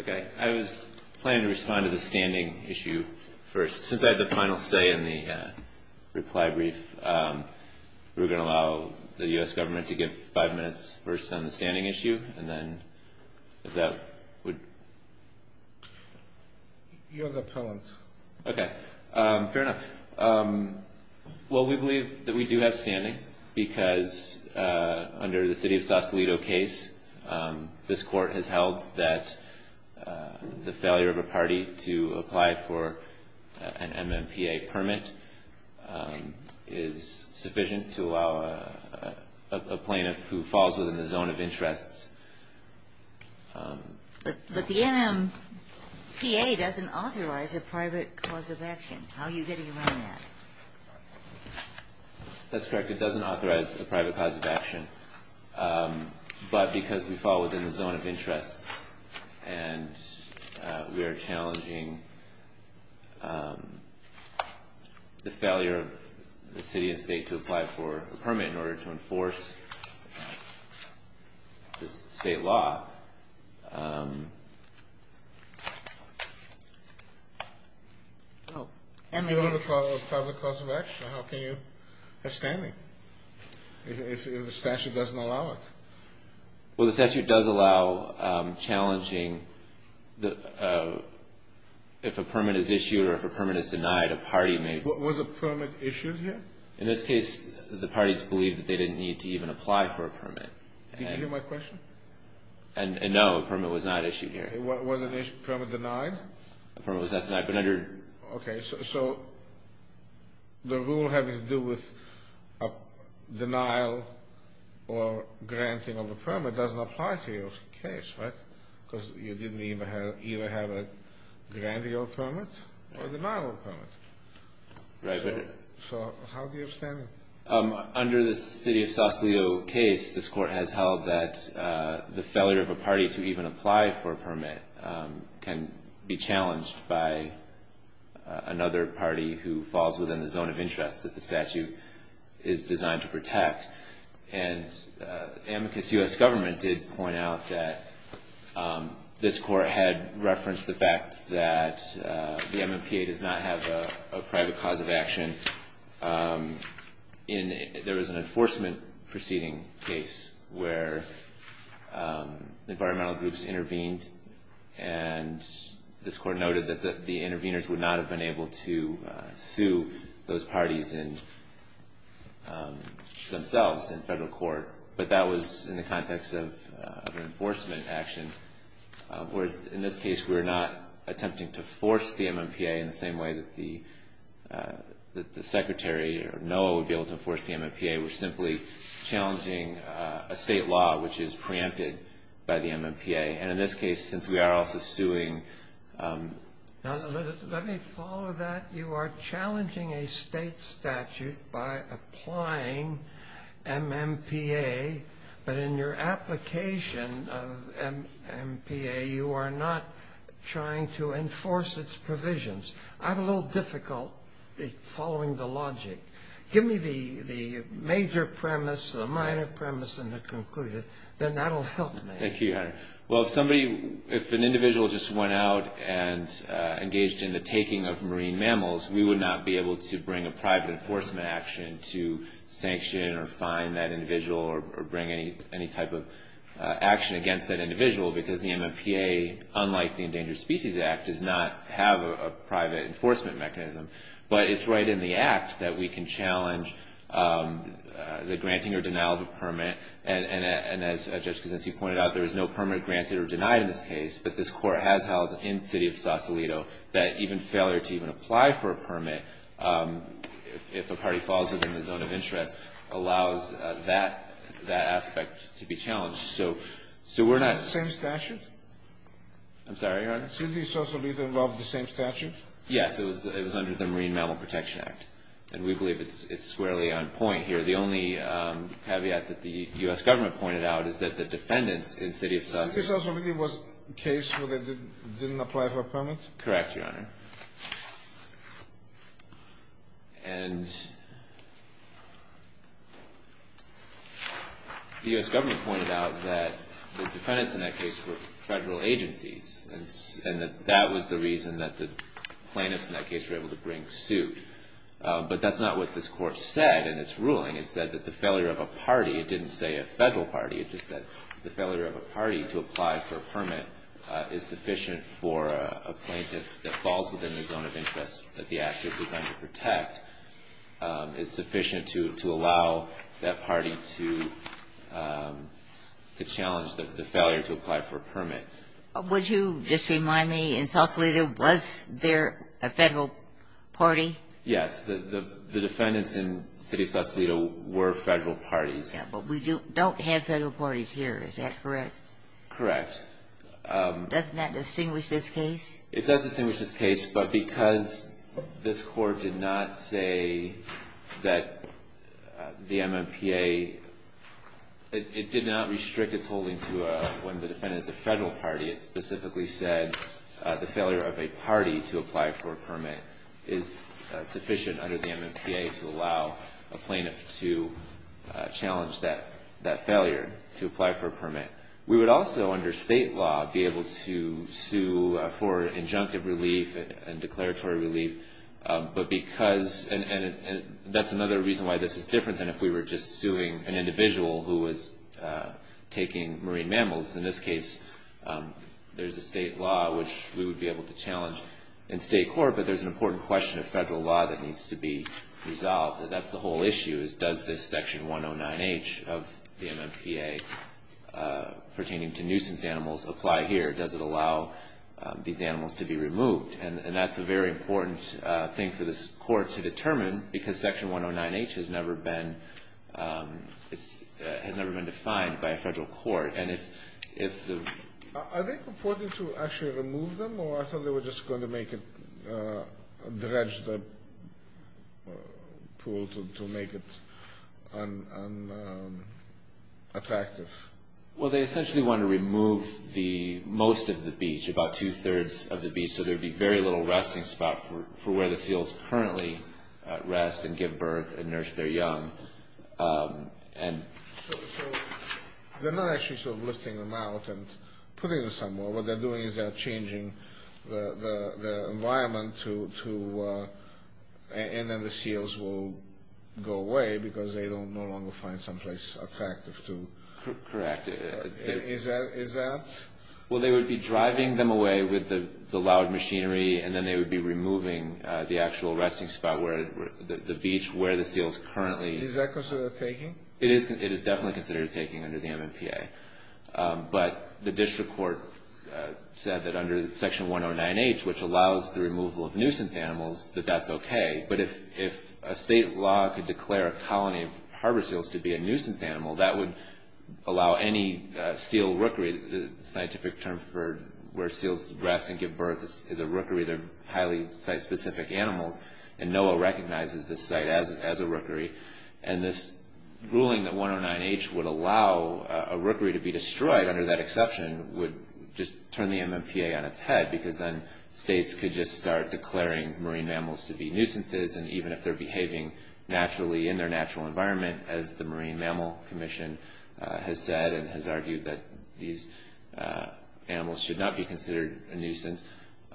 Okay, I was planning to respond to the standing issue first. Since I had the final say in the reply brief, we're going to allow the U.S. government to give five minutes first on the standing issue, and then if that would... You're the appellant. Okay, fair enough. Well, we believe that we do have standing because under the City of Sausalito case, this court has held that the failure of a party to apply for an MMPA permit is sufficient to allow a plaintiff who falls within the zone of interests. But the MMPA doesn't authorize a private cause of action. How are you getting around that? That's correct. It doesn't authorize a private cause of action. But because we fall within the zone of interests and we are challenging the failure of the city and state to apply for a permit in order to enforce the state law... You have a private cause of action. How can you have standing if the statute doesn't allow it? Well, the statute does allow challenging if a permit is issued or if a permit is denied, a party may... Was a permit issued here? In this case, the parties believe that they didn't need to even apply for a permit. Can you repeat my question? No, a permit was not issued here. Was a permit denied? A permit was not denied, but under... Okay, so the rule having to do with denial or granting of a permit doesn't apply to your case, right? Because you didn't either have a granting of a permit or a denial of a permit. Right, but... So how do you have standing? Under the city of Sausalito case, this court has held that the failure of a party to even apply for a permit can be challenged by another party who falls within the zone of interest that the statute is designed to protect. And the amicus U.S. government did point out that this court had referenced the fact that the MMPA does not have a private cause of action. There was an enforcement proceeding case where environmental groups intervened, and this court noted that the interveners would not have been able to sue those parties themselves in federal court, but that was in the context of an enforcement action. Whereas in this case, we're not attempting to force the MMPA in the same way that the secretary or NOAA would be able to enforce the MMPA. We're simply challenging a state law which is preempted by the MMPA. And in this case, since we are also suing... Let me follow that. You are challenging a state statute by applying MMPA, but in your application of MMPA, you are not trying to enforce its provisions. I'm a little difficult following the logic. Give me the major premise, the minor premise, and the conclusion. Thank you, Your Honor. Well, if an individual just went out and engaged in the taking of marine mammals, we would not be able to bring a private enforcement action to sanction or fine that individual or bring any type of action against that individual because the MMPA, unlike the Endangered Species Act, does not have a private enforcement mechanism. But it's right in the act that we can challenge the granting or denial of a permit. And as Judge Kosinski pointed out, there is no permit granted or denied in this case. But this Court has held in the city of Sausalito that even failure to even apply for a permit, if a party falls within the zone of interest, allows that aspect to be challenged. So we're not... Isn't it the same statute? I'm sorry, Your Honor? Isn't the Sausalito involved in the same statute? Yes. It was under the Marine Mammal Protection Act. And we believe it's squarely on point here. The only caveat that the U.S. government pointed out is that the defendants in the city of Sausalito... The city of Sausalito was a case where they didn't apply for a permit? Correct, Your Honor. And the U.S. government pointed out that the defendants in that case were federal agencies and that that was the reason that the plaintiffs in that case were able to bring suit. But that's not what this Court said in its ruling. It said that the failure of a party, it didn't say a federal party. It just said the failure of a party to apply for a permit is sufficient for a plaintiff that falls within the zone of interest that the act is designed to protect, is sufficient to allow that party to challenge the failure to apply for a permit. Would you just remind me, in Sausalito, was there a federal party? Yes. The defendants in the city of Sausalito were federal parties. But we don't have federal parties here. Is that correct? Correct. Doesn't that distinguish this case? It does distinguish this case. But because this Court did not say that the MMPA, it did not restrict its holding to when the defendant is a federal party. It specifically said the failure of a party to apply for a permit is sufficient under the MMPA to allow a plaintiff to challenge that failure to apply for a permit. We would also, under state law, be able to sue for injunctive relief and declaratory relief. But because, and that's another reason why this is different than if we were just suing an individual who was taking marine mammals. In this case, there's a state law which we would be able to challenge in state court. But there's an important question of federal law that needs to be resolved. That's the whole issue is does this Section 109H of the MMPA pertaining to nuisance animals apply here? Does it allow these animals to be removed? And that's a very important thing for this Court to determine because Section 109H has never been defined by a federal court. Are they purporting to actually remove them or are they just going to dredge the pool to make it unattractive? Well, they essentially want to remove most of the beach, about two-thirds of the beach, so there would be very little resting spot for where the seals currently rest and give birth and nurse their young. So they're not actually sort of lifting them out and putting them somewhere. What they're doing is they're changing the environment to, and then the seals will go away because they no longer find someplace attractive to. Correct. Is that? Well, they would be driving them away with the loud machinery, and then they would be removing the actual resting spot, the beach where the seals currently rest. Is that considered taking? It is definitely considered taking under the MMPA. But the district court said that under Section 109H, which allows the removal of nuisance animals, that that's okay. But if a state law could declare a colony of harbor seals to be a nuisance animal, that would allow any seal rookery, the scientific term for where seals rest and give birth is a rookery of highly site-specific animals, and NOAA recognizes this site as a rookery. And this ruling that 109H would allow a rookery to be destroyed under that exception would just turn the MMPA on its head because then states could just start declaring marine mammals to be nuisances, and even if they're behaving naturally in their natural environment, as the Marine Mammal Commission has said and has argued that these animals should not be considered a nuisance.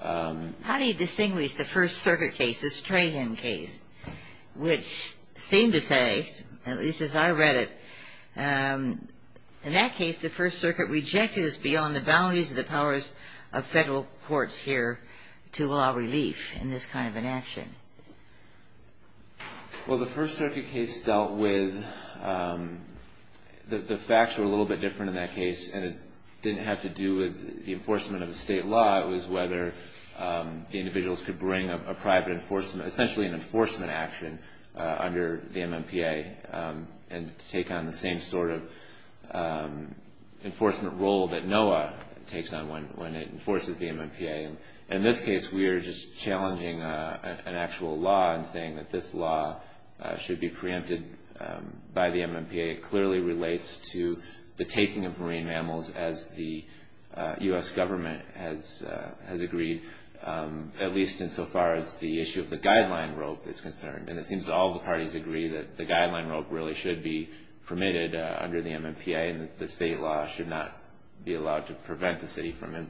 How do you distinguish the First Circuit case, the Strahan case, which seemed to say, at least as I read it, in that case the First Circuit rejected us beyond the boundaries of the powers of federal courts here to allow relief in this kind of an action? Well, the First Circuit case dealt with the facts were a little bit different in that case, and it didn't have to do with the enforcement of the state law. It was whether the individuals could bring a private enforcement, essentially an enforcement action under the MMPA and take on the same sort of enforcement role that NOAA takes on when it enforces the MMPA. In this case, we are just challenging an actual law and saying that this law should be preempted by the MMPA. It clearly relates to the taking of marine mammals as the U.S. government has agreed, at least insofar as the issue of the guideline rope is concerned, and it seems all the parties agree that the guideline rope really should be permitted under the MMPA, and the state law should not be allowed to prevent the city from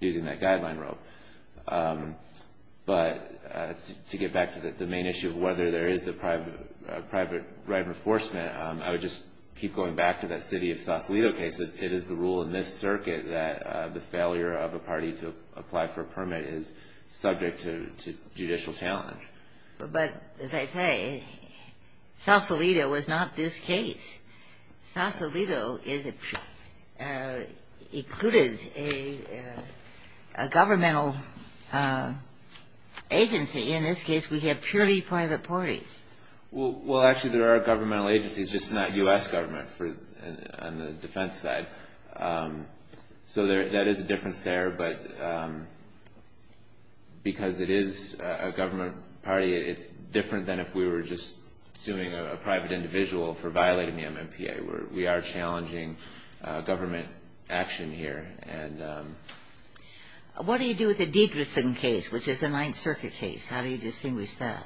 using that guideline rope. But to get back to the main issue of whether there is a private right of enforcement, I would just keep going back to that city of Sausalito case. It is the rule in this circuit that the failure of a party to apply for a permit is subject to judicial challenge. But as I say, Sausalito was not this case. Sausalito included a governmental agency. In this case, we have purely private parties. Well, actually, there are governmental agencies, just not U.S. government on the defense side. So that is a difference there, but because it is a government party, it is different than if we were just suing a private individual for violating the MMPA. We are challenging government action here. What do you do with the Dietrichson case, which is a Ninth Circuit case? How do you distinguish that?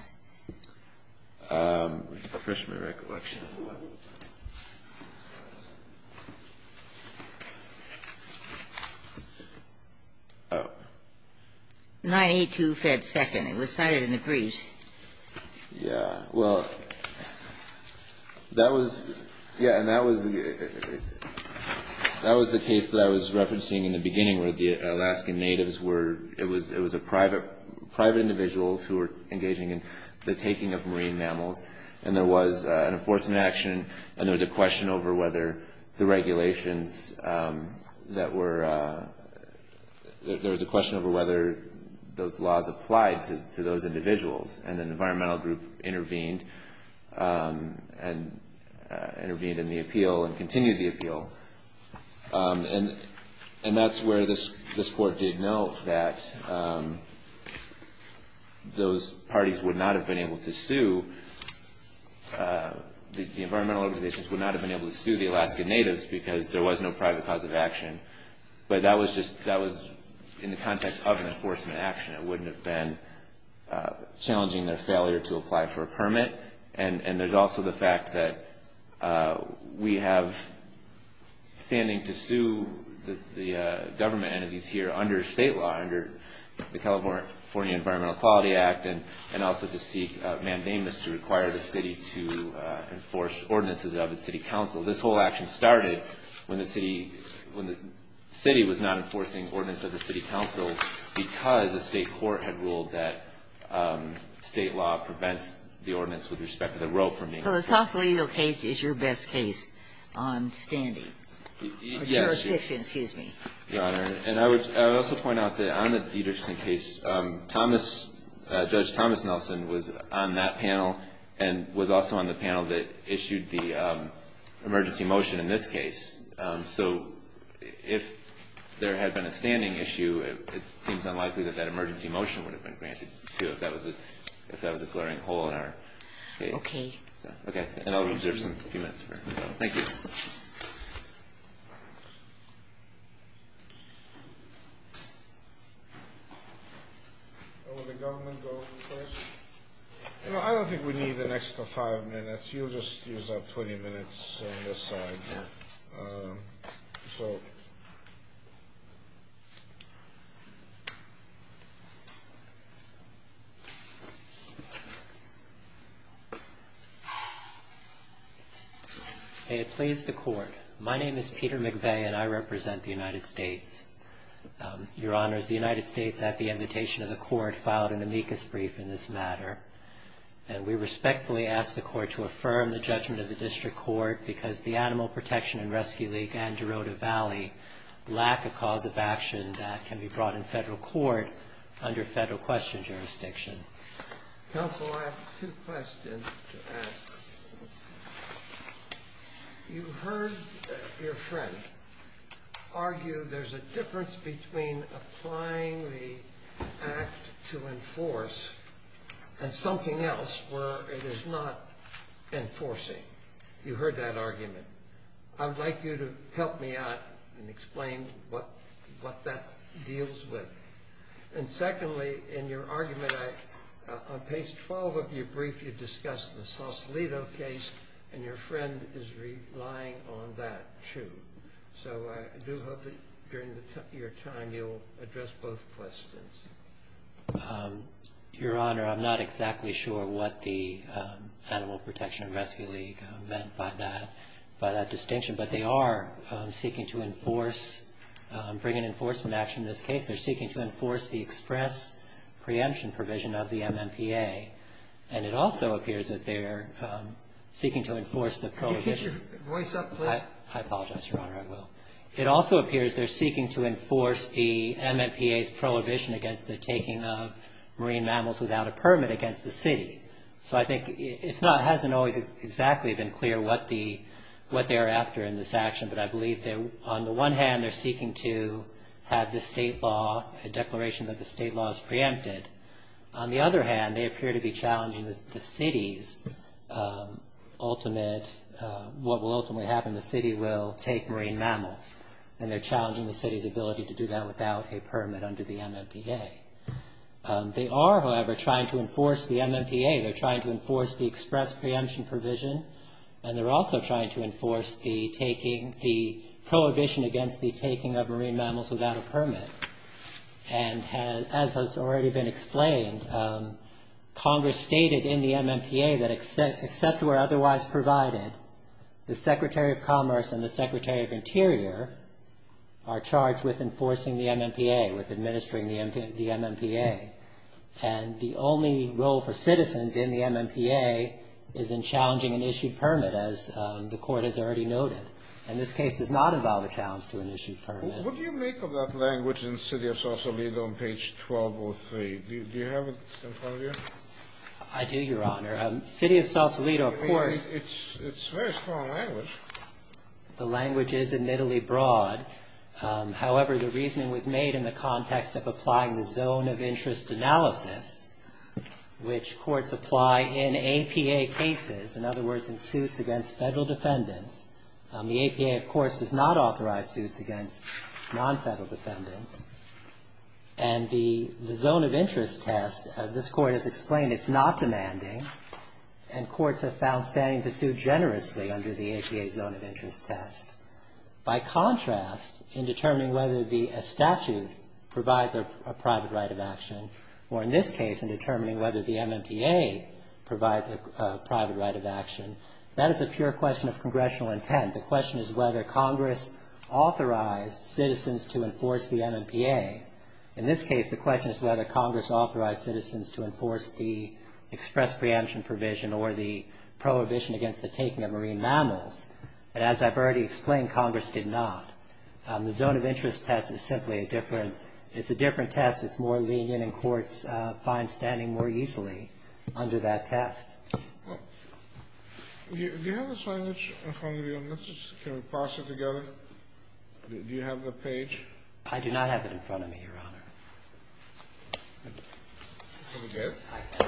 Let me refresh my recollection. Oh. 982 Fed 2nd. It was cited in the briefs. Yeah. Well, that was the case that I was referencing in the beginning where the Alaskan natives were, it was private individuals who were engaging in the taking of marine mammals. And there was an enforcement action, and there was a question over whether the regulations that were, there was a question over whether those laws applied to those individuals. And an environmental group intervened and intervened in the appeal and continued the appeal. And that's where this Court did note that those parties would not have been able to sue, the environmental organizations would not have been able to sue the Alaskan natives because there was no private cause of action. But that was just, that was in the context of an enforcement action. It wouldn't have been challenging their failure to apply for a permit. And there's also the fact that we have standing to sue the government entities here under state law, under the California Environmental Equality Act and also to seek mandamus to require the city to enforce ordinances of the city council. This whole action started when the city was not enforcing ordinances of the city council because the state court had ruled that state law prevents the ordinance with respect to the road from being enforced. So the Sausalito case is your best case on standing? Yes. Or jurisdiction, excuse me. Your Honor, and I would also point out that on the Dietersen case, Thomas, Judge Thomas Nelson was on that panel and was also on the panel that issued the emergency motion in this case. So if there had been a standing issue, it seems unlikely that that emergency motion would have been granted, too, if that was a glaring hole in our case. Okay. Okay. And I'll reserve a few minutes for that. Thank you. Will the government go first? No, I don't think we need an extra five minutes. You'll just use up 20 minutes on this side. May it please the Court. My name is Peter McVeigh, and I represent the United States. Your Honors, the United States, at the invitation of the Court, filed an amicus brief in this matter, and we respectfully ask the Court to affirm the judgment of the district court because the Animal Protection and Rescue League and Derota Valley lack a cause of action that can be brought in federal court under federal question jurisdiction. Counsel, I have two questions to ask. You heard your friend argue there's a difference between applying the act to enforce a statute, and something else where it is not enforcing. You heard that argument. I would like you to help me out and explain what that deals with. And secondly, in your argument, on page 12 of your brief, you discussed the Sausalito case, and your friend is relying on that, too. So I do hope that during your time, you'll address both questions. Your Honor, I'm not exactly sure what the Animal Protection and Rescue League meant by that distinction, but they are seeking to enforce, bring an enforcement action in this case. They're seeking to enforce the express preemption provision of the MMPA, and it also appears that they're seeking to enforce the prohibition. Can you get your voice up, please? I apologize, Your Honor, I will. It also appears they're seeking to enforce the MMPA's prohibition against the taking of marine mammals without a permit against the city. So I think it hasn't always exactly been clear what they are after in this action, but I believe that on the one hand, they're seeking to have the state law, a declaration that the state law is preempted. On the other hand, they appear to be challenging the city's ultimate, what will ultimately happen, the city will take marine mammals, and they're challenging the city's ability to do that without a permit under the MMPA. They are, however, trying to enforce the MMPA. They're trying to enforce the express preemption provision, and they're also trying to enforce the prohibition against the taking of marine mammals without a permit. And as has already been explained, Congress stated in the MMPA that except where otherwise provided, the Secretary of Commerce and the Secretary of Interior are charged with enforcing the MMPA, with administering the MMPA. And the only role for citizens in the MMPA is in challenging an issued permit, as the Court has already noted. And this case does not involve a challenge to an issued permit. What do you make of that language in the City of Sausalito on page 1203? Do you have it in front of you? I do, Your Honor. City of Sausalito, of course. It's a very strong language. The language is admittedly broad. However, the reasoning was made in the context of applying the zone of interest analysis, which courts apply in APA cases, in other words, in suits against Federal defendants. The APA, of course, does not authorize suits against non-Federal defendants. And the zone of interest test, this Court has explained it's not demanding, and courts have found standing pursuit generously under the APA zone of interest test. By contrast, in determining whether a statute provides a private right of action, or in this case in determining whether the MMPA provides a private right of action, that is a pure question of congressional intent. The question is whether Congress authorized citizens to enforce the MMPA. In this case, the question is whether Congress authorized citizens to enforce the express preemption provision or the prohibition against the taking of marine mammals. And as I've already explained, Congress did not. The zone of interest test is simply a different, it's a different test. It's more lenient, and courts find standing more easily under that test. Kennedy. Do you have the signage in front of you? Can we pass it together? Do you have the page? I do not have it in front of me, Your Honor. Here we go.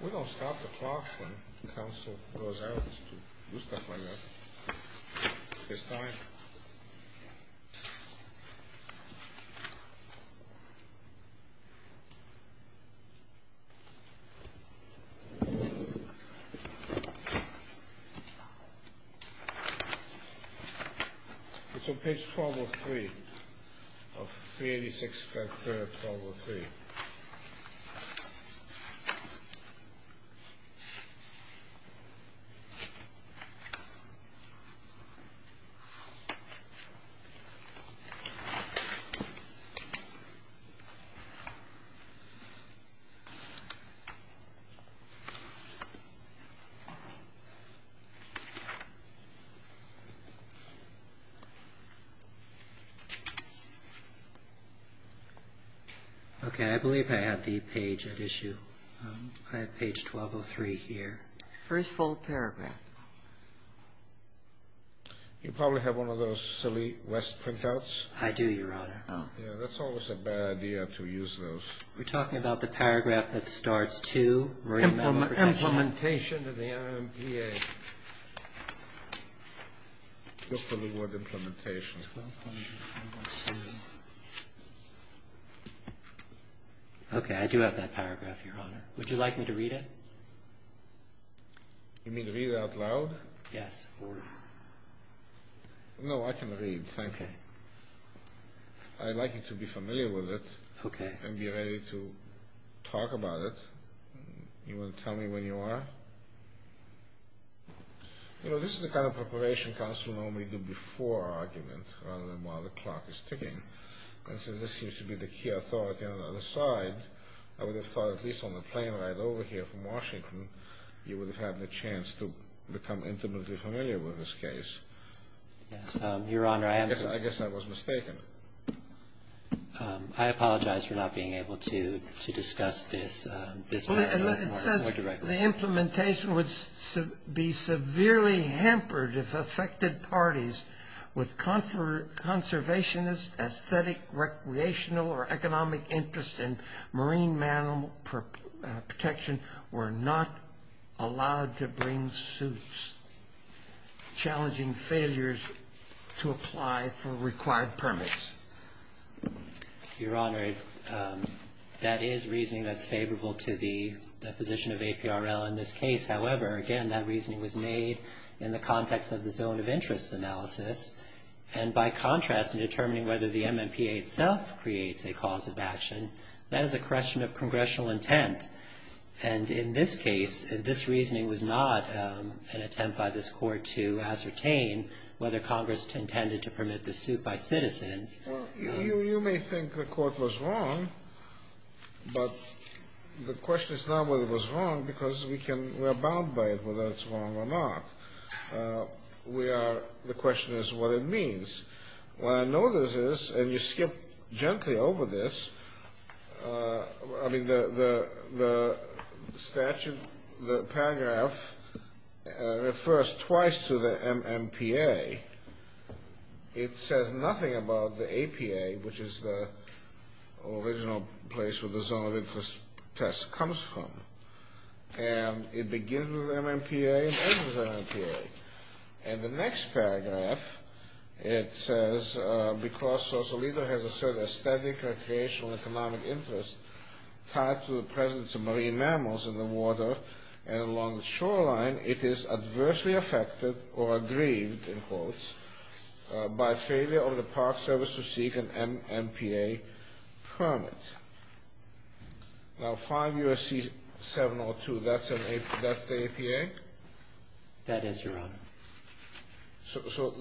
We don't stop the clock when counsel goes out to do stuff like that. It's time. It's on page 1203 of 386, paragraph 1203. Okay. Okay. I believe I have the page at issue. I have page 1203 here. First full paragraph. You probably have one of those silly West printouts. I do, Your Honor. Oh. Yeah, that's always a bad idea to use those. We're talking about the paragraph that starts 2, marine mammal protection. Implementation of the MMPA. Look for the word implementation. Okay. I do have that paragraph, Your Honor. Would you like me to read it? You mean read it out loud? Yes. No, I can read. Thank you. I'd like you to be familiar with it. Okay. And be ready to talk about it. You want to tell me when you are? You know, this is the kind of preparation counsel normally do before argument rather than while the clock is ticking. This used to be the key authority on the other side. I would have thought at least on the plane ride over here from Washington, you would have had the chance to become intimately familiar with this case. Yes, Your Honor, I am. I guess I was mistaken. I apologize for not being able to discuss this paragraph more directly. The implementation would be severely hampered if affected parties with conservationist, aesthetic, recreational, or economic interest in marine mammal protection were not allowed to bring suits, challenging failures to apply for required permits. Your Honor, that is reasoning that's favorable to the position of APRL in this case. However, again, that reasoning was made in the context of the zone of interest analysis. And by contrast, in determining whether the MMPA itself creates a cause of action, that is a question of congressional intent. And in this case, this reasoning was not an attempt by this court to ascertain whether Congress intended to permit the suit by citizens. Well, you may think the court was wrong, but the question is not whether it was wrong, because we are bound by it, whether it's wrong or not. The question is what it means. What I know this is, and you skipped gently over this, I mean, the statute, the paragraph refers twice to the MMPA. It says nothing about the APA, which is the original place where the zone of interest test comes from. And it begins with MMPA and ends with MMPA. And the next paragraph, it says, because social leader has asserted a static recreational economic interest tied to the presence of marine mammals in the water and along the shoreline, it is adversely affected or aggrieved, in quotes, by failure of the Park Service to seek an MMPA permit. Now, 5 U.S.C. 702, that's the APA? That is, Your Honor. So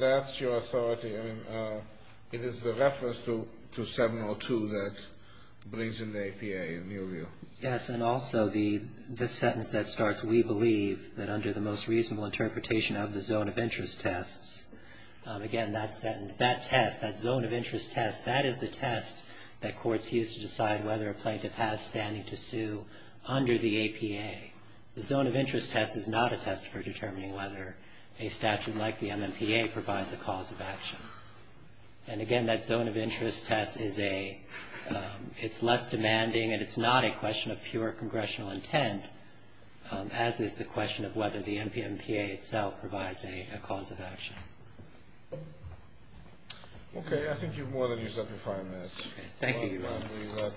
that's your authority. I mean, it is the reference to 702 that brings in the APA, in your view. Yes. And also the sentence that starts, we believe that under the most reasonable interpretation of the zone of interest tests, again, that sentence, that test, that zone of interest test, that is the test that courts use to decide whether a plaintiff has standing to sue under the APA. The zone of interest test is not a test for determining whether a statute like the MMPA provides a cause of action. And, again, that zone of interest test is less demanding, and it's not a question of pure congressional intent, as is the question of whether the MMPA itself provides a cause of action. Okay. I think you've more than used up your five minutes. Okay. Thank you, Your Honor.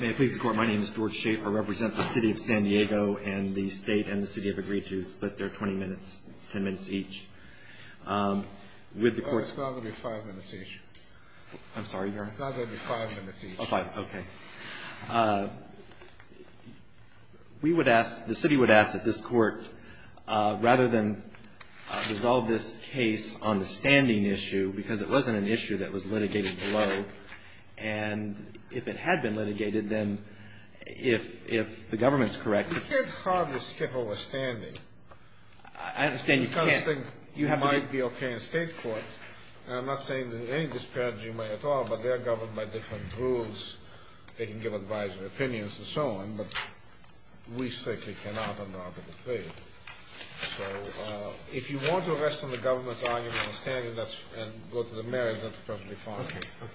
May I please report my name is George Schaefer. I represent the City of San Diego and the State and the City have agreed to split their 20 minutes, 10 minutes each. With the courts ---- It's not going to be five minutes each. I'm sorry, Your Honor? It's not going to be five minutes each. Oh, five. Okay. We would ask, the City would ask that this Court, rather than resolve this case on the standing issue, because it wasn't an issue that was litigated below, and if it had been litigated, then if the government's correct ---- You can't hardly skip over standing. I understand you can't. You might be okay in State court. I'm not saying there's any disparity at all, but they are governed by different rules. They can give advisory opinions and so on, but we certainly cannot on the article three. So if you want to rest on the government's argument on standing and go to the merits, that's perfectly fine with me.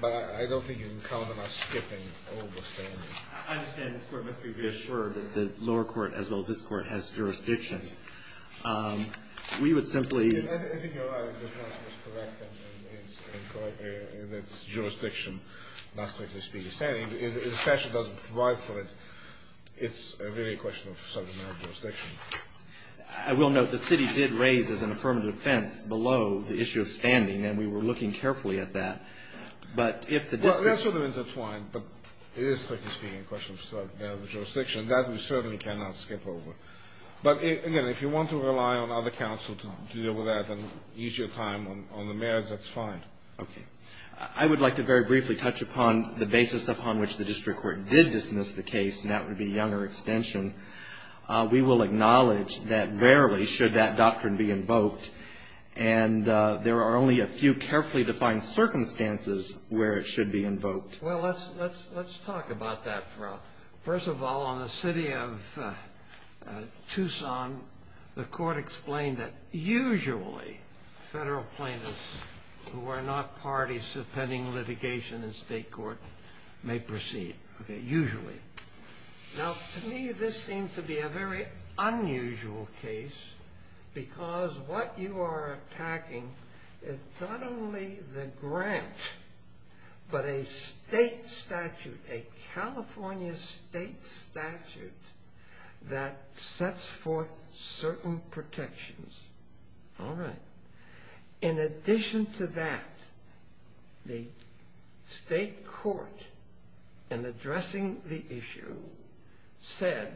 But I don't think you can count on us skipping over standing. I understand this Court must be reassured that the lower court as well as this Court has jurisdiction. We would simply ---- I think your argument is correct in that it's jurisdiction, not, strictly speaking, standing. If the statute doesn't provide for it, it's really a question of subject matter jurisdiction. I will note the City did raise as an affirmative defense below the issue of standing, and we were looking carefully at that. But if the district ---- Well, that's sort of intertwined, but it is, strictly speaking, a question of subject matter jurisdiction. That we certainly cannot skip over. But, again, if you want to rely on other counsel to deal with that and ease your time on the merits, that's fine. Okay. I would like to very briefly touch upon the basis upon which the district court did dismiss the case, and that would be Younger extension. We will acknowledge that rarely should that doctrine be invoked, and there are only a few carefully defined circumstances where it should be invoked. Well, let's talk about that for a while. First of all, on the city of Tucson, the court explained that usually federal plaintiffs who are not parties to pending litigation in state court may proceed. Okay. Usually. Now, to me, this seems to be a very unusual case because what you are attacking is not only the grant, but a state statute, a California state statute that sets forth certain protections. All right. In addition to that, the state court, in addressing the issue, said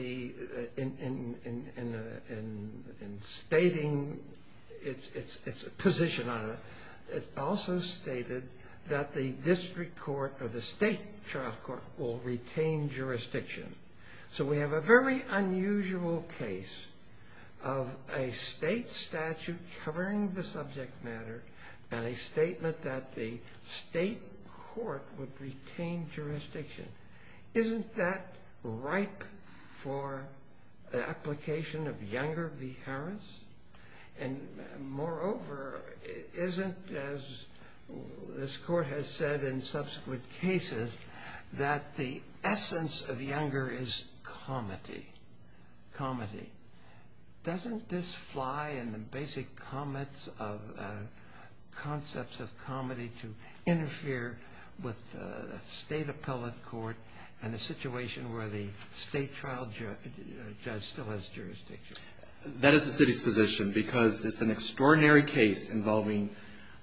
in stating its position on it, it also stated that the district court or the state trial court will retain jurisdiction. So we have a very unusual case of a state statute covering the subject matter and a statement that the state court would retain jurisdiction. Isn't that ripe for the application of Younger v. Harris? And moreover, isn't, as this court has said in subsequent cases, that the essence of Younger is comedy? Comedy. Doesn't this fly in the basic comments of concepts of comedy to interfere with the state appellate court in a situation where the state trial judge still has jurisdiction? That is the city's position because it's an extraordinary case involving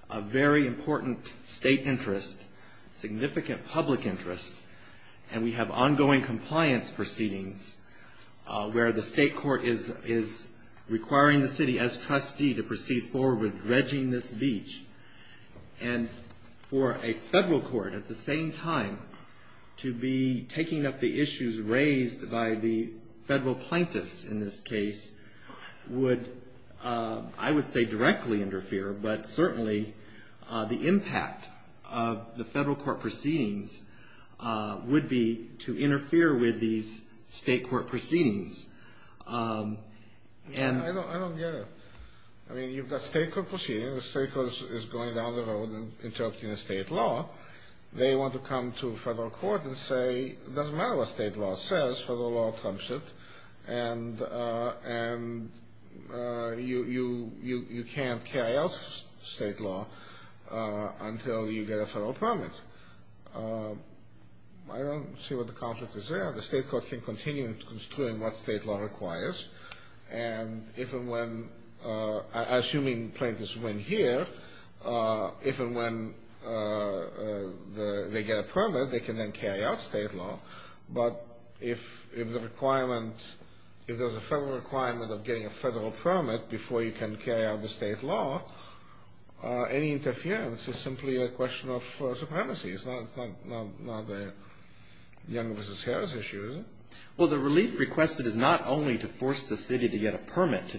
a very important state interest, significant public interest, and we have ongoing compliance proceedings where the state court is requiring the city as trustee to proceed forward with dredging this beach. And for a federal court at the same time to be taking up the issues raised by the federal plaintiffs in this case would, I would say directly interfere, but certainly the impact of the federal court proceedings would be to interfere with these state court proceedings. I don't get it. I mean, you've got state court proceedings, the state court is going down the road and interrupting the state law. They want to come to federal court and say it doesn't matter what state law says, federal law trumps it. And you can't carry out state law until you get a federal permit. I don't see what the conflict is there. The state court can continue to constrain what state law requires. And if and when, assuming plaintiffs win here, if and when they get a permit they can then carry out state law. But if the requirement, if there's a federal requirement of getting a federal permit before you can carry out the state law, any interference is simply a question of supremacy. It's not the Young v. Harris issue, is it? Well, the relief requested is not only to force the city to get a permit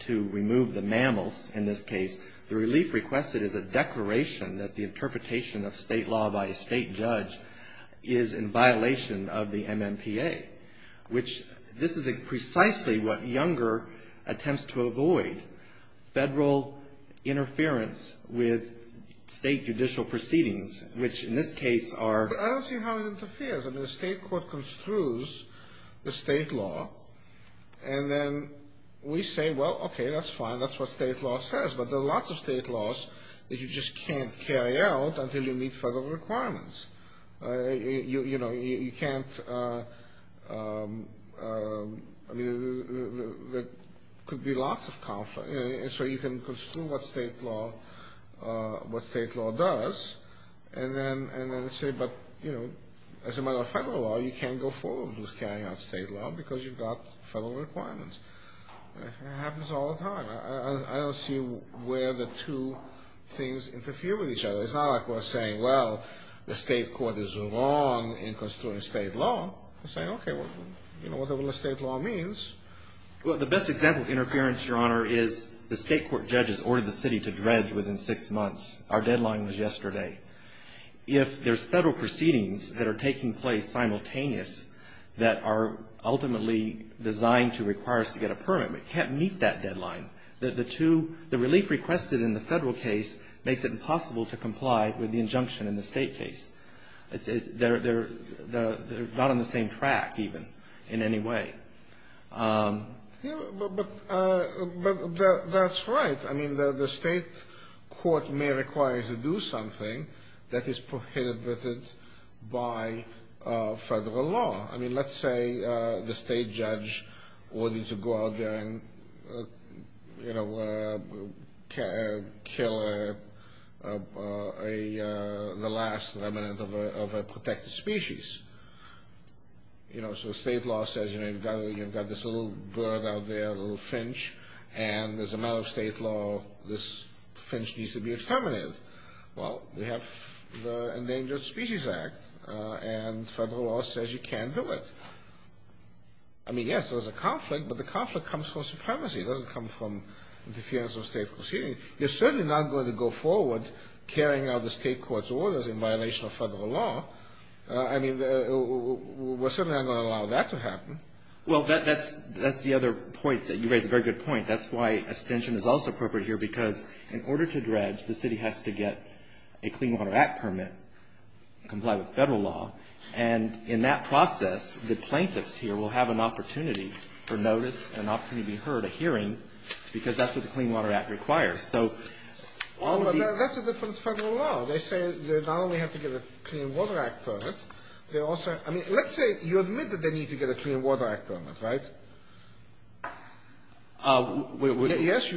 to remove the mammals in this case. The relief requested is a declaration that the interpretation of state law by a state judge is in violation of the MMPA, which this is precisely what Younger attempts to avoid, federal interference with state judicial proceedings, which in this case are. But I don't see how it interferes. I mean, the state court construes the state law, and then we say, well, okay, that's fine, that's what state law says. But there are lots of state laws that you just can't carry out until you meet federal requirements. You know, you can't, I mean, there could be lots of conflicts. And so you can construe what state law does, and then say, but, you know, as a matter of federal law, you can't go forward with carrying out state law because you've got federal requirements. It happens all the time. I don't see where the two things interfere with each other. It's not like we're saying, well, the state court is wrong in construing state law. We're saying, okay, well, you know what the rule of state law means. Well, the best example of interference, Your Honor, is the state court judges ordered the city to dredge within six months. Our deadline was yesterday. If there's federal proceedings that are taking place simultaneous that are ultimately designed to require us to get a permit, we can't meet that deadline. The two, the relief requested in the federal case makes it impossible to comply with the injunction in the state case. They're not on the same track, even, in any way. Yeah, but that's right. I mean, the state court may require you to do something that is prohibited by federal law. I mean, let's say the state judge ordered you to go out there and, you know, kill the last remnant of a protected species. You know, so state law says, you know, you've got this little bird out there, a little finch, and as a matter of state law, this finch needs to be exterminated. Well, we have the Endangered Species Act, and federal law says you can't do it. I mean, yes, there's a conflict, but the conflict comes from supremacy. It doesn't come from interference of state proceedings. You're certainly not going to go forward carrying out the state court's orders in violation of federal law. I mean, we're certainly not going to allow that to happen. Well, that's the other point that you raise, a very good point. That's why extension is also appropriate here, because in order to dredge, the city has to get a Clean Water Act permit, comply with federal law, and in that process, the plaintiffs here will have an opportunity for notice, an opportunity to be heard, a hearing, because that's what the Clean Water Act requires. So all of the – Well, but that's a different federal law. They say that now we have to get a Clean Water Act permit. They also – I mean, let's say you admit that they need to get a Clean Water Act permit, right? Yes.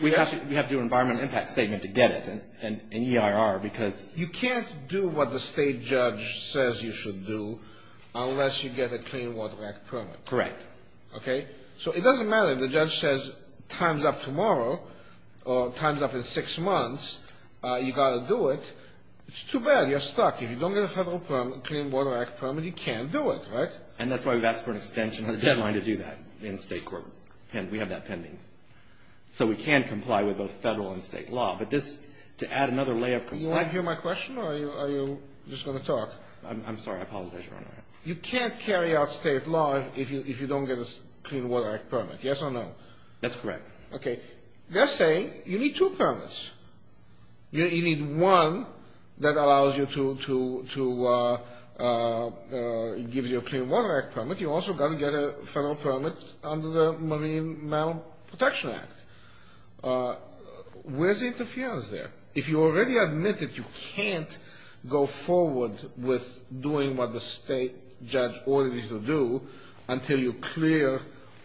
We have to do an environmental impact statement to get it in EIR, because – You can't do what the state judge says you should do unless you get a Clean Water Act permit. Correct. Okay? So it doesn't matter if the judge says time's up tomorrow or time's up in six months. You've got to do it. It's too bad. You're stuck. If you don't get a federal Clean Water Act permit, you can't do it, right? And that's why we've asked for an extension of the deadline to do that in state court. We have that pending. So we can comply with both federal and state law, but this – to add another layer of compliance – Do you want to hear my question, or are you just going to talk? I'm sorry. I apologize, Your Honor. You can't carry out state law if you don't get a Clean Water Act permit, yes or no? That's correct. Okay. Let's say you need two permits. You need one that allows you to – gives you a Clean Water Act permit. You've also got to get a federal permit under the Marine Mammal Protection Act. Where's the interference there? If you already admit that you can't go forward with doing what the state judge ordered you to do until you clear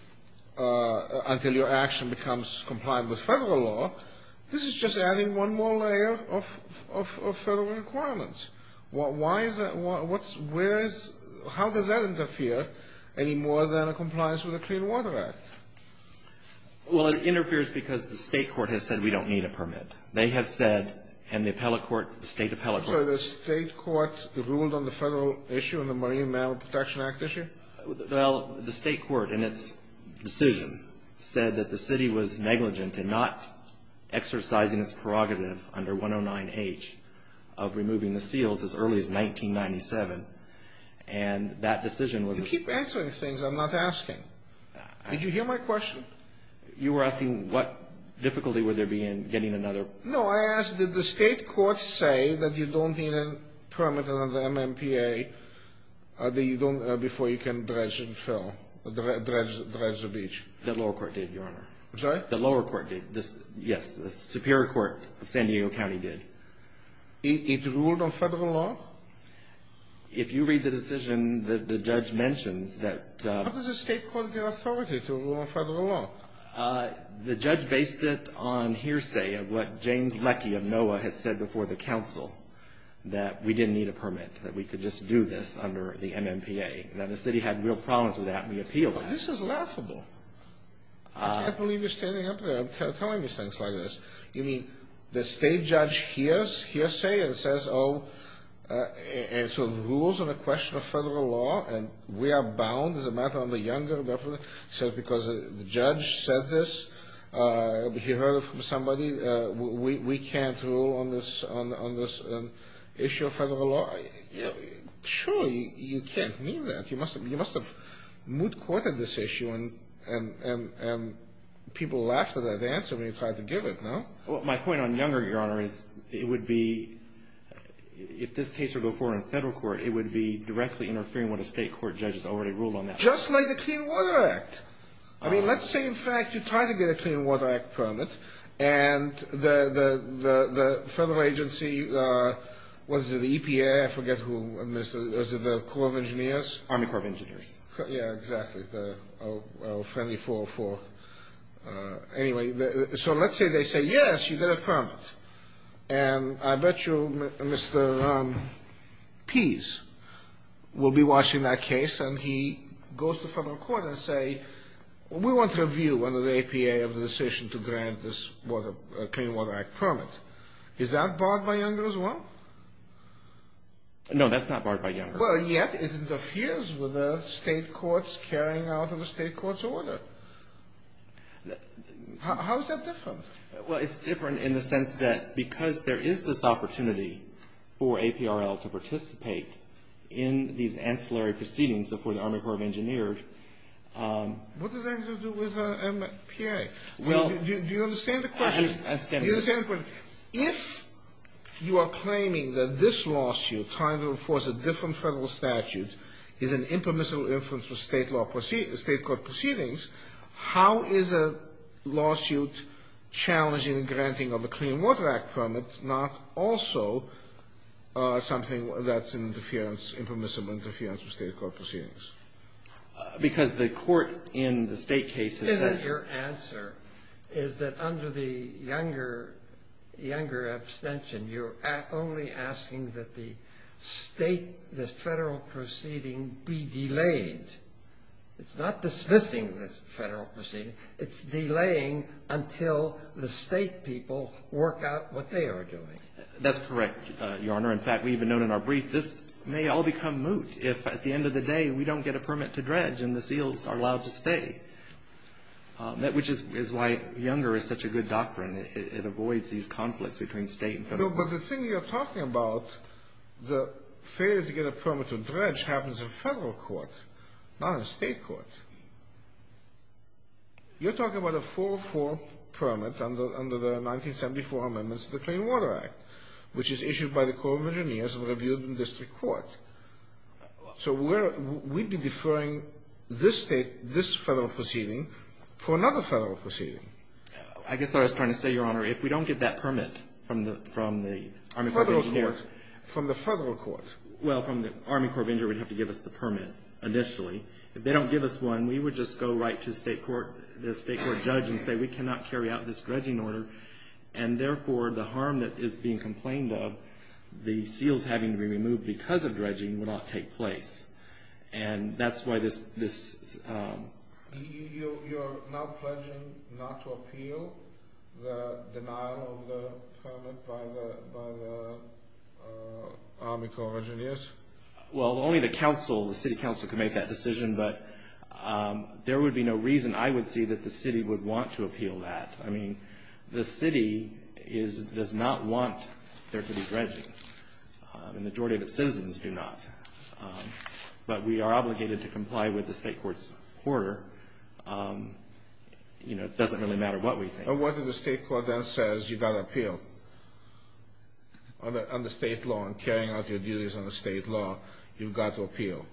– until your action becomes compliant with federal law, this is just adding one more layer of federal requirements. Why is that – where is – how does that interfere any more than a compliance with a Clean Water Act? Well, it interferes because the state court has said we don't need a permit. They have said, and the appellate court – the state appellate court – So the state court ruled on the federal issue and the Marine Mammal Protection Act issue? Well, the state court in its decision said that the city was negligent in not exercising its prerogative under 109H of removing the seals as early as 1997. And that decision was – You keep answering things I'm not asking. Did you hear my question? You were asking what difficulty would there be in getting another – No. So I ask, did the state court say that you don't need a permit under MMPA that you don't – before you can dredge and fill – dredge the beach? The lower court did, Your Honor. Sorry? The lower court did. Yes, the superior court of San Diego County did. It ruled on federal law? If you read the decision, the judge mentions that – How does the state court get authority to rule on federal law? The judge based it on hearsay of what James Leckie of NOAA had said before the council, that we didn't need a permit, that we could just do this under the MMPA. Now, the city had real problems with that, and we appealed it. This is laughable. I can't believe you're standing up there and telling me things like this. You mean the state judge hears hearsay and says, oh – and sort of rules on the question of federal law, and we are bound as a matter of the younger government? So because the judge said this, he heard it from somebody, we can't rule on this issue of federal law? Surely you can't mean that. You must have moot courted this issue, and people laughed at that answer when you tried to give it, no? Well, my point on younger, Your Honor, is it would be – if this case would go forward in federal court, it would be directly interfering with what a state court judge has already ruled on that. Just like the Clean Water Act. I mean, let's say, in fact, you try to get a Clean Water Act permit, and the federal agency – what is it, the EPA? I forget who – is it the Corps of Engineers? Army Corps of Engineers. Yeah, exactly. Oh, well, friendly 404. And I bet you Mr. Pease will be watching that case, and he goes to federal court and say, we want to review under the EPA of the decision to grant this Clean Water Act permit. Is that barred by younger as well? No, that's not barred by younger. Well, yet it interferes with the state court's carrying out of the state court's order. How is that different? Well, it's different in the sense that because there is this opportunity for APRL to participate in these ancillary proceedings before the Army Corps of Engineers. What does that have to do with EPA? Well – Do you understand the question? I understand the question. Do you understand the question? If you are claiming that this lawsuit, trying to enforce a different federal statute, is an impermissible influence of state law – state court proceedings, how is a lawsuit challenging granting of the Clean Water Act permit not also something that's interference – impermissible interference with state court proceedings? Because the court in the state case has said – Your answer is that under the younger – younger abstention, you're only asking that the state – the federal proceeding be delayed. It's not dismissing the federal proceeding. It's delaying until the state people work out what they are doing. That's correct, Your Honor. In fact, we even note in our brief this may all become moot if at the end of the day we don't get a permit to dredge and the SEALs are allowed to stay, which is why younger is such a good doctrine. It avoids these conflicts between state and federal. No, but the thing you're talking about, the failure to get a permit to dredge, happens in federal court, not in state court. You're talking about a 404 permit under the 1974 amendments to the Clean Water Act, which is issued by the Corps of Engineers and reviewed in district court. So we're – we'd be deferring this state – this federal proceeding for another federal proceeding. I guess what I was trying to say, Your Honor, if we don't get that permit from the Army Corps of Engineers – Federal court. From the federal court. Well, from the Army Corps of Engineers, we'd have to give us the permit initially. If they don't give us one, we would just go right to the state court – the state court judge and say, we cannot carry out this dredging order, and therefore, the harm that is being complained of, the SEALs having to be removed because of dredging would not take place. And that's why this – this – You're now pledging not to appeal the denial of the permit by the Army Corps of Engineers? Well, only the council – the city council can make that decision, but there would be no reason I would see that the city would want to appeal that. I mean, the city is – does not want there to be dredging, and the majority of its citizens do not. But we are obligated to comply with the state court's order. You know, it doesn't really matter what we think. And what if the state court then says you've got to appeal? Under state law and carrying out your duties under state law, you've got to appeal?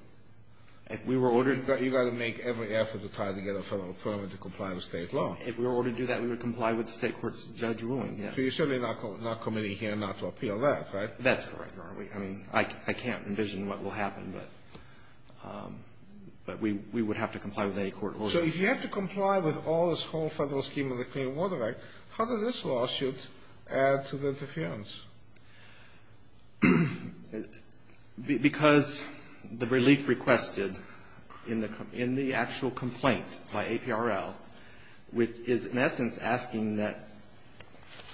If we were ordered – You've got to make every effort to try to get a federal permit to comply with state law. If we were ordered to do that, we would comply with the state court's judge ruling, yes. So you're certainly not committing here not to appeal that, right? That's correct, Your Honor. I mean, I can't envision what will happen, but we would have to comply with any court order. So if you have to comply with all this whole federal scheme of the Clean Water Act, how does this lawsuit add to the interference? Because the relief requested in the actual complaint by APRL, which is in essence asking that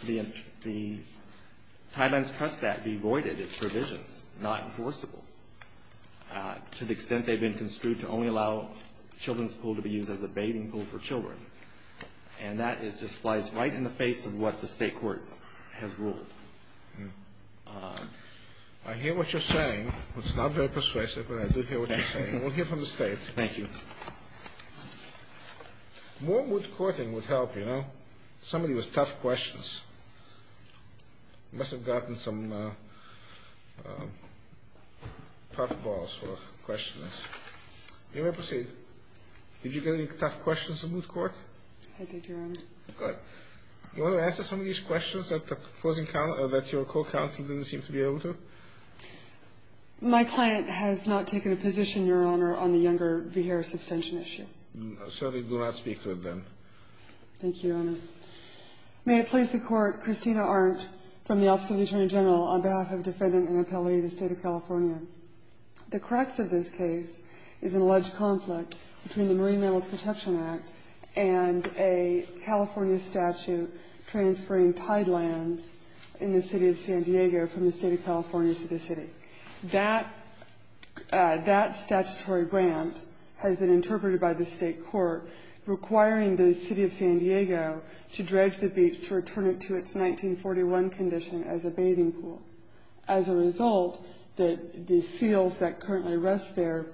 the Title IX trust act be voided, its provisions, not enforceable, to the extent they've been construed to only allow children's pool to be used as a bathing pool for children. And that is displaced right in the face of what the state court has ruled. I hear what you're saying. It's not very persuasive, but I do hear what you're saying. We'll hear from the state. Thank you. More moot courting would help, you know? Some of these are tough questions. You must have gotten some tough balls for questioning this. You may proceed. Did you get any tough questions in moot court? I did, Your Honor. Good. Do you want to answer some of these questions that your co-counsel didn't seem to be able to? My client has not taken a position, Your Honor, on the Younger v. Harris abstention issue. So we will not speak to it then. Thank you, Your Honor. May it please the Court, Christina Arndt from the Office of the Attorney General, on behalf of Defendant Annapelli of the State of California. The crux of this case is an alleged conflict between the Marine Mammals Protection Act and a California statute transferring tide lands in the city of San Diego from the state of California to the city. That statutory grant has been interpreted by the state court requiring the city of San Diego to dredge the beach to return it to its 1941 condition as a bathing pool. As a result, the seals that currently rest there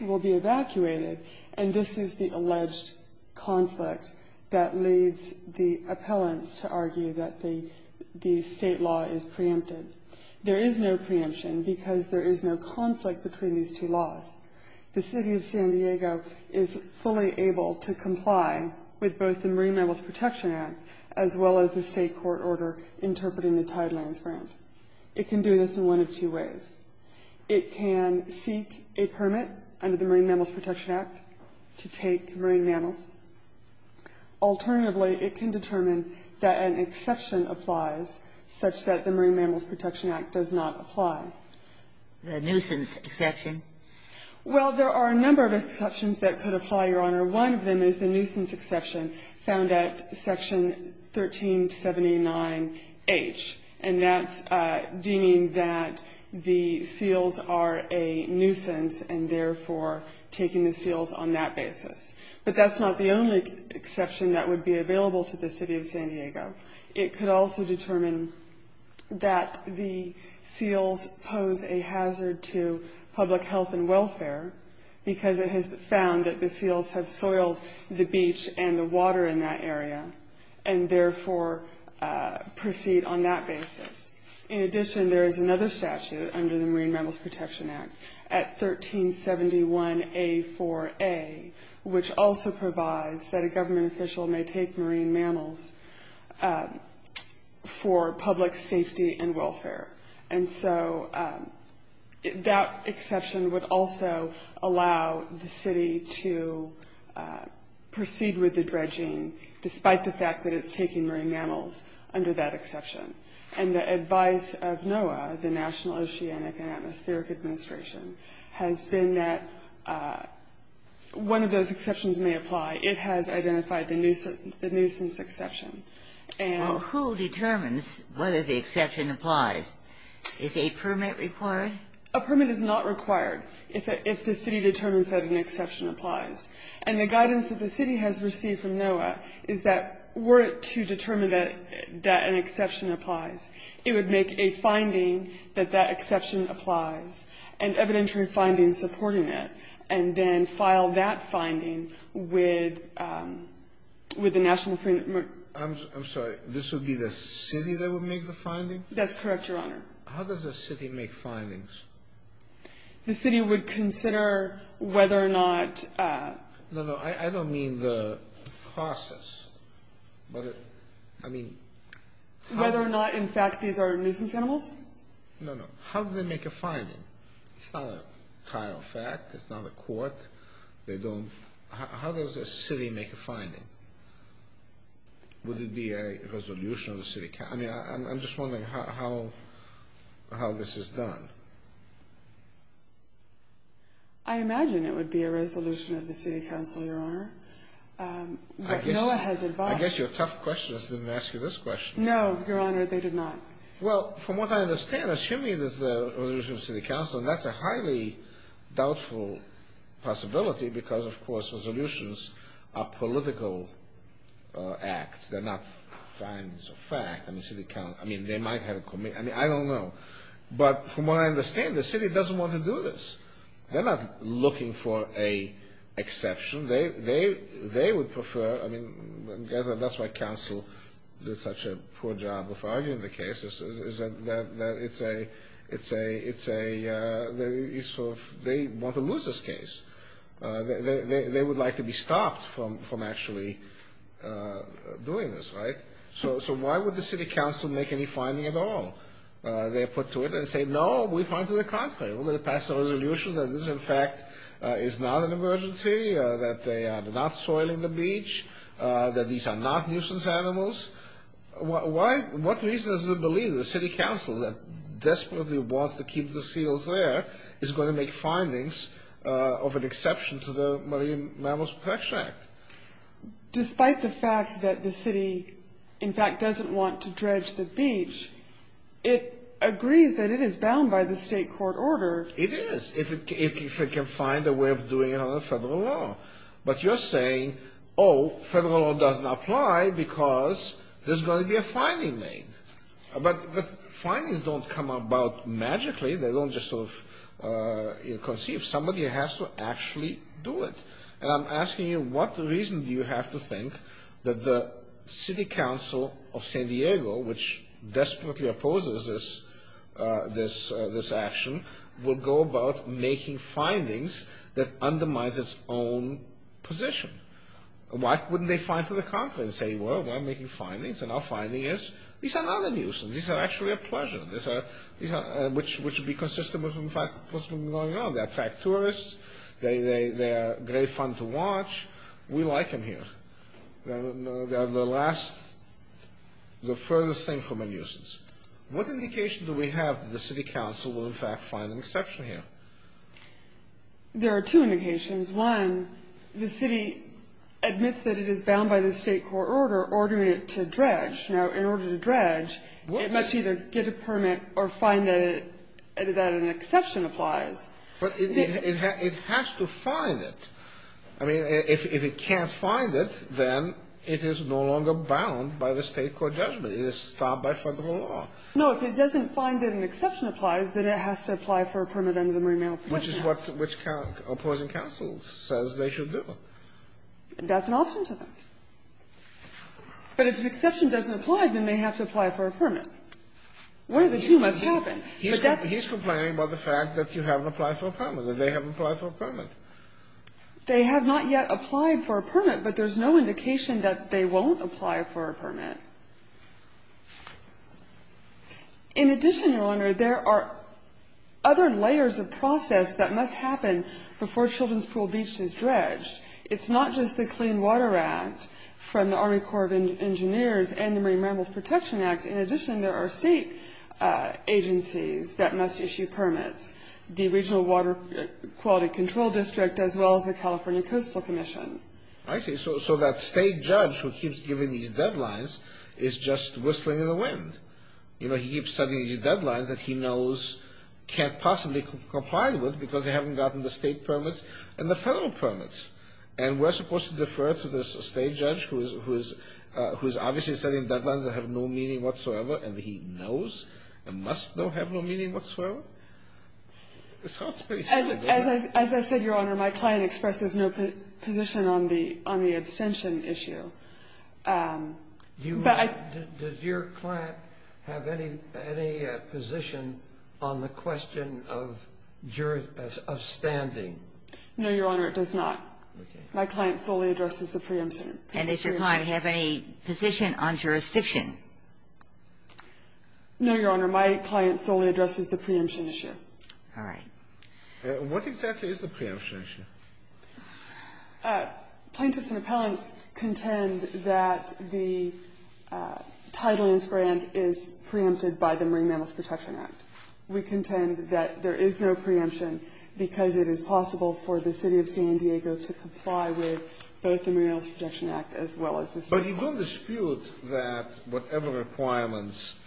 will be evacuated, and this is the alleged conflict that leads the appellants to argue that the state law is preempted. There is no preemption because there is no conflict between these two laws. The city of San Diego is fully able to comply with both the Marine Mammals Protection Act as well as the state court order interpreting the tide lands grant. It can do this in one of two ways. It can seek a permit under the Marine Mammals Protection Act to take marine mammals. Alternatively, it can determine that an exception applies, such that the Marine Mammals Protection Act does not apply. The nuisance exception? Well, there are a number of exceptions that could apply, Your Honor. One of them is the nuisance exception found at Section 1379H, and that's deeming that the seals are a nuisance and therefore taking the seals on that basis. But that's not the only exception that would be available to the city of San Diego. It could also determine that the seals pose a hazard to public health and welfare because it has found that the seals have soiled the beach and the water in that area and therefore proceed on that basis. In addition, there is another statute under the Marine Mammals Protection Act at 1371A4A, which also provides that a government official may take marine mammals for public safety and welfare. And so that exception would also allow the city to proceed with the dredging despite the fact that it's taking marine mammals under that exception. And the advice of NOAA, the National Oceanic and Atmospheric Administration, has been that one of those exceptions may apply. It has identified the nuisance exception. Well, who determines whether the exception applies? Is a permit required? A permit is not required if the city determines that an exception applies. And the guidance that the city has received from NOAA is that were it to determine that an exception applies, it would make a finding that that exception applies, an evidentiary finding supporting it, and then file that finding with the National Marine Mammals I'm sorry. This would be the city that would make the finding? That's correct, Your Honor. How does the city make findings? The city would consider whether or not No, no. I don't mean the process, but I mean Whether or not, in fact, these are nuisance animals? No, no. How do they make a finding? It's not a trial fact. It's not a court. They don't How does a city make a finding? Would it be a resolution of the city? I'm just wondering how this is done. I imagine it would be a resolution of the city council, Your Honor. But NOAA has advised I guess your tough questions didn't ask you this question. No, Your Honor, they did not. Well, from what I understand, assuming it's a resolution of the city council, that's a highly doubtful possibility because, of course, resolutions are political acts. They're not findings of fact. I mean, they might have a committee. I mean, I don't know. But from what I understand, the city doesn't want to do this. They're not looking for an exception. They would prefer I mean, I guess that's why council did such a poor job of arguing the case, is that it's a They want to lose this case. They would like to be stopped from actually doing this, right? So why would the city council make any finding at all? They put to it and say, no, we find to the contrary. We're going to pass a resolution that this, in fact, is not an emergency, that they are not soiling the beach, that these are not nuisance animals. What reason is there to believe the city council, that desperately wants to keep the seals there, is going to make findings of an exception to the Marine Mammals Protection Act? Despite the fact that the city, in fact, doesn't want to dredge the beach, it agrees that it is bound by the state court order. It is, if it can find a way of doing it under federal law. But you're saying, oh, federal law doesn't apply because there's going to be a finding made. But findings don't come about magically. They don't just sort of conceive. Somebody has to actually do it. And I'm asking you, what reason do you have to think that the city council of San Diego, which desperately opposes this action, would go about making findings that undermines its own position? Why wouldn't they find to the contrary and say, well, we're making findings, and our finding is these are not a nuisance. These are actually a pleasure, which would be consistent with what's been going on. They attract tourists. They are great fun to watch. We like them here. They are the last, the furthest thing from a nuisance. What indication do we have that the city council will, in fact, find an exception here? There are two indications. One, the city admits that it is bound by the state court order ordering it to dredge. Now, in order to dredge, it must either get a permit or find that an exception applies. But it has to find it. I mean, if it can't find it, then it is no longer bound by the state court judgment. It is stopped by Federal law. No. If it doesn't find that an exception applies, then it has to apply for a permit under the Marine Mail Permit Act. Which is what opposing counsel says they should do. That's an option to them. But if an exception doesn't apply, then they have to apply for a permit. One of the two must happen. He's complaining about the fact that you haven't applied for a permit, that they haven't applied for a permit. They have not yet applied for a permit, but there's no indication that they won't apply for a permit. In addition, Your Honor, there are other layers of process that must happen before Children's Pool Beach is dredged. It's not just the Clean Water Act from the Army Corps of Engineers and the Marine agencies that must issue permits. The Regional Water Quality Control District, as well as the California Coastal Commission. I see. So that state judge who keeps giving these deadlines is just whistling in the wind. You know, he keeps setting these deadlines that he knows can't possibly comply with because they haven't gotten the state permits and the federal permits. And we're supposed to defer to this state judge who is obviously setting deadlines that have no meaning whatsoever and he knows and must know have no meaning whatsoever? It sounds pretty simple, doesn't it? As I said, Your Honor, my client expresses no position on the abstention issue. But I do. Does your client have any position on the question of standing? No, Your Honor, it does not. My client solely addresses the preemption. And does your client have any position on jurisdiction? No, Your Honor, my client solely addresses the preemption issue. All right. What exactly is the preemption issue? Plaintiffs and appellants contend that the title in this grant is preempted by the Marine Mammals Protection Act. We contend that there is no preemption because it is possible for the city of San Diego to But you don't dispute that whatever requirements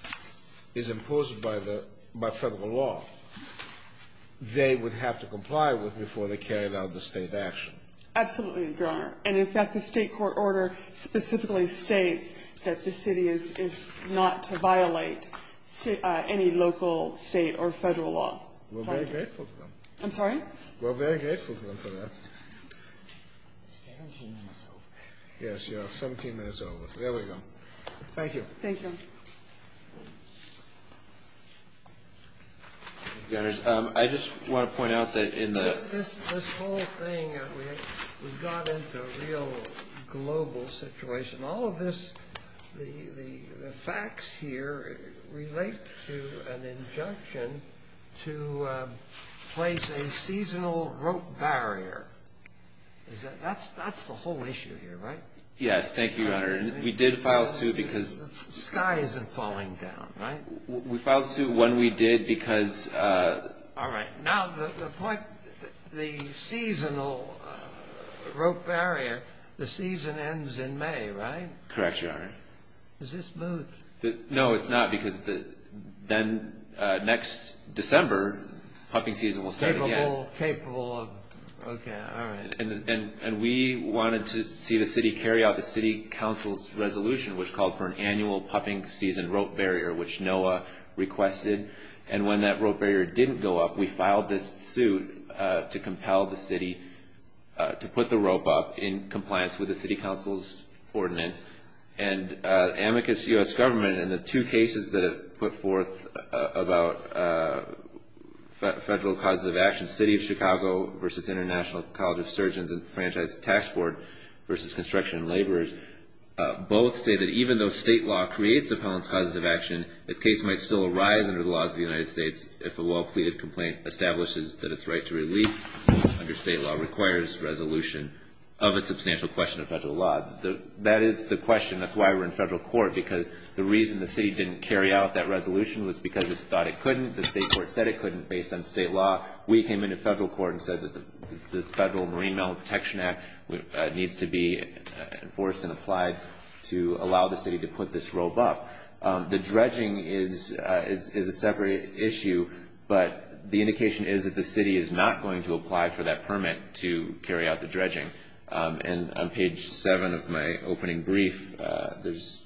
is imposed by the federal law, they would have to comply with before they carried out the state action? Absolutely, Your Honor. And in fact, the state court order specifically states that the city is not to violate any local, state, or federal law. We're very grateful to them. I'm sorry? We're very grateful to them for that. Seventeen minutes over. Yes, Your Honor. Seventeen minutes over. There we go. Thank you. Thank you. Your Honor, I just want to point out that in the This whole thing, we've got into a real global situation. All of this, the facts here relate to an injunction to place a seasonal rope barrier. That's the whole issue here, right? Thank you, Your Honor. We did file suit because The sky isn't falling down, right? We filed suit when we did because All right. Now, the point, the seasonal rope barrier, the season ends in May, right? Correct, Your Honor. Is this moot? No, it's not because then next December, pupping season will start again. Capable of, okay, all right. And we wanted to see the city carry out the city council's resolution, which called for an annual pupping season rope barrier, which NOAA requested. And when that rope barrier didn't go up, we filed this suit to compel the city to put the rope up in compliance with the city council's ordinance. And amicus U.S. government and the two cases that it put forth about federal causes of action, City of Chicago versus International College of Surgeons and Franchise Tax Board versus Construction and Laborers, both say that even though state law creates appellant's causes of action, its case might still arise under the laws of the United States if a well-pleaded complaint establishes that its right to relief under state law requires resolution of a substantial question of federal law. That is the question. That's why we're in federal court, because the reason the city didn't carry out that resolution was because it thought it couldn't. The state court said it couldn't based on state law. We came into federal court and said that the Federal Marine Mammal Protection Act needs to be enforced and applied to allow the city to put this rope up. The dredging is a separate issue, but the indication is that the city is not going to apply for that permit to carry out the dredging. And on page 7 of my opening brief, there's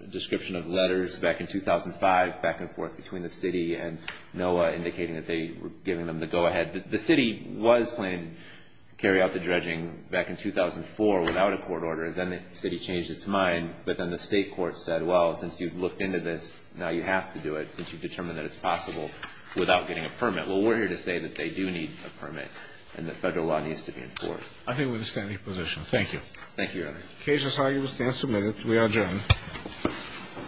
a description of letters back in 2005, back and forth between the city and NOAA indicating that they were giving them the go-ahead. The city was planning to carry out the dredging back in 2004 without a court order. Then the city changed its mind. But then the state court said, well, since you've looked into this, now you have to do it, since you've determined that it's possible without getting a permit. Well, we're here to say that they do need a permit and that federal law needs to be enforced. I think we're in a standing position. Thank you. Thank you, Your Honor. The case is argued and submitted. We are adjourned.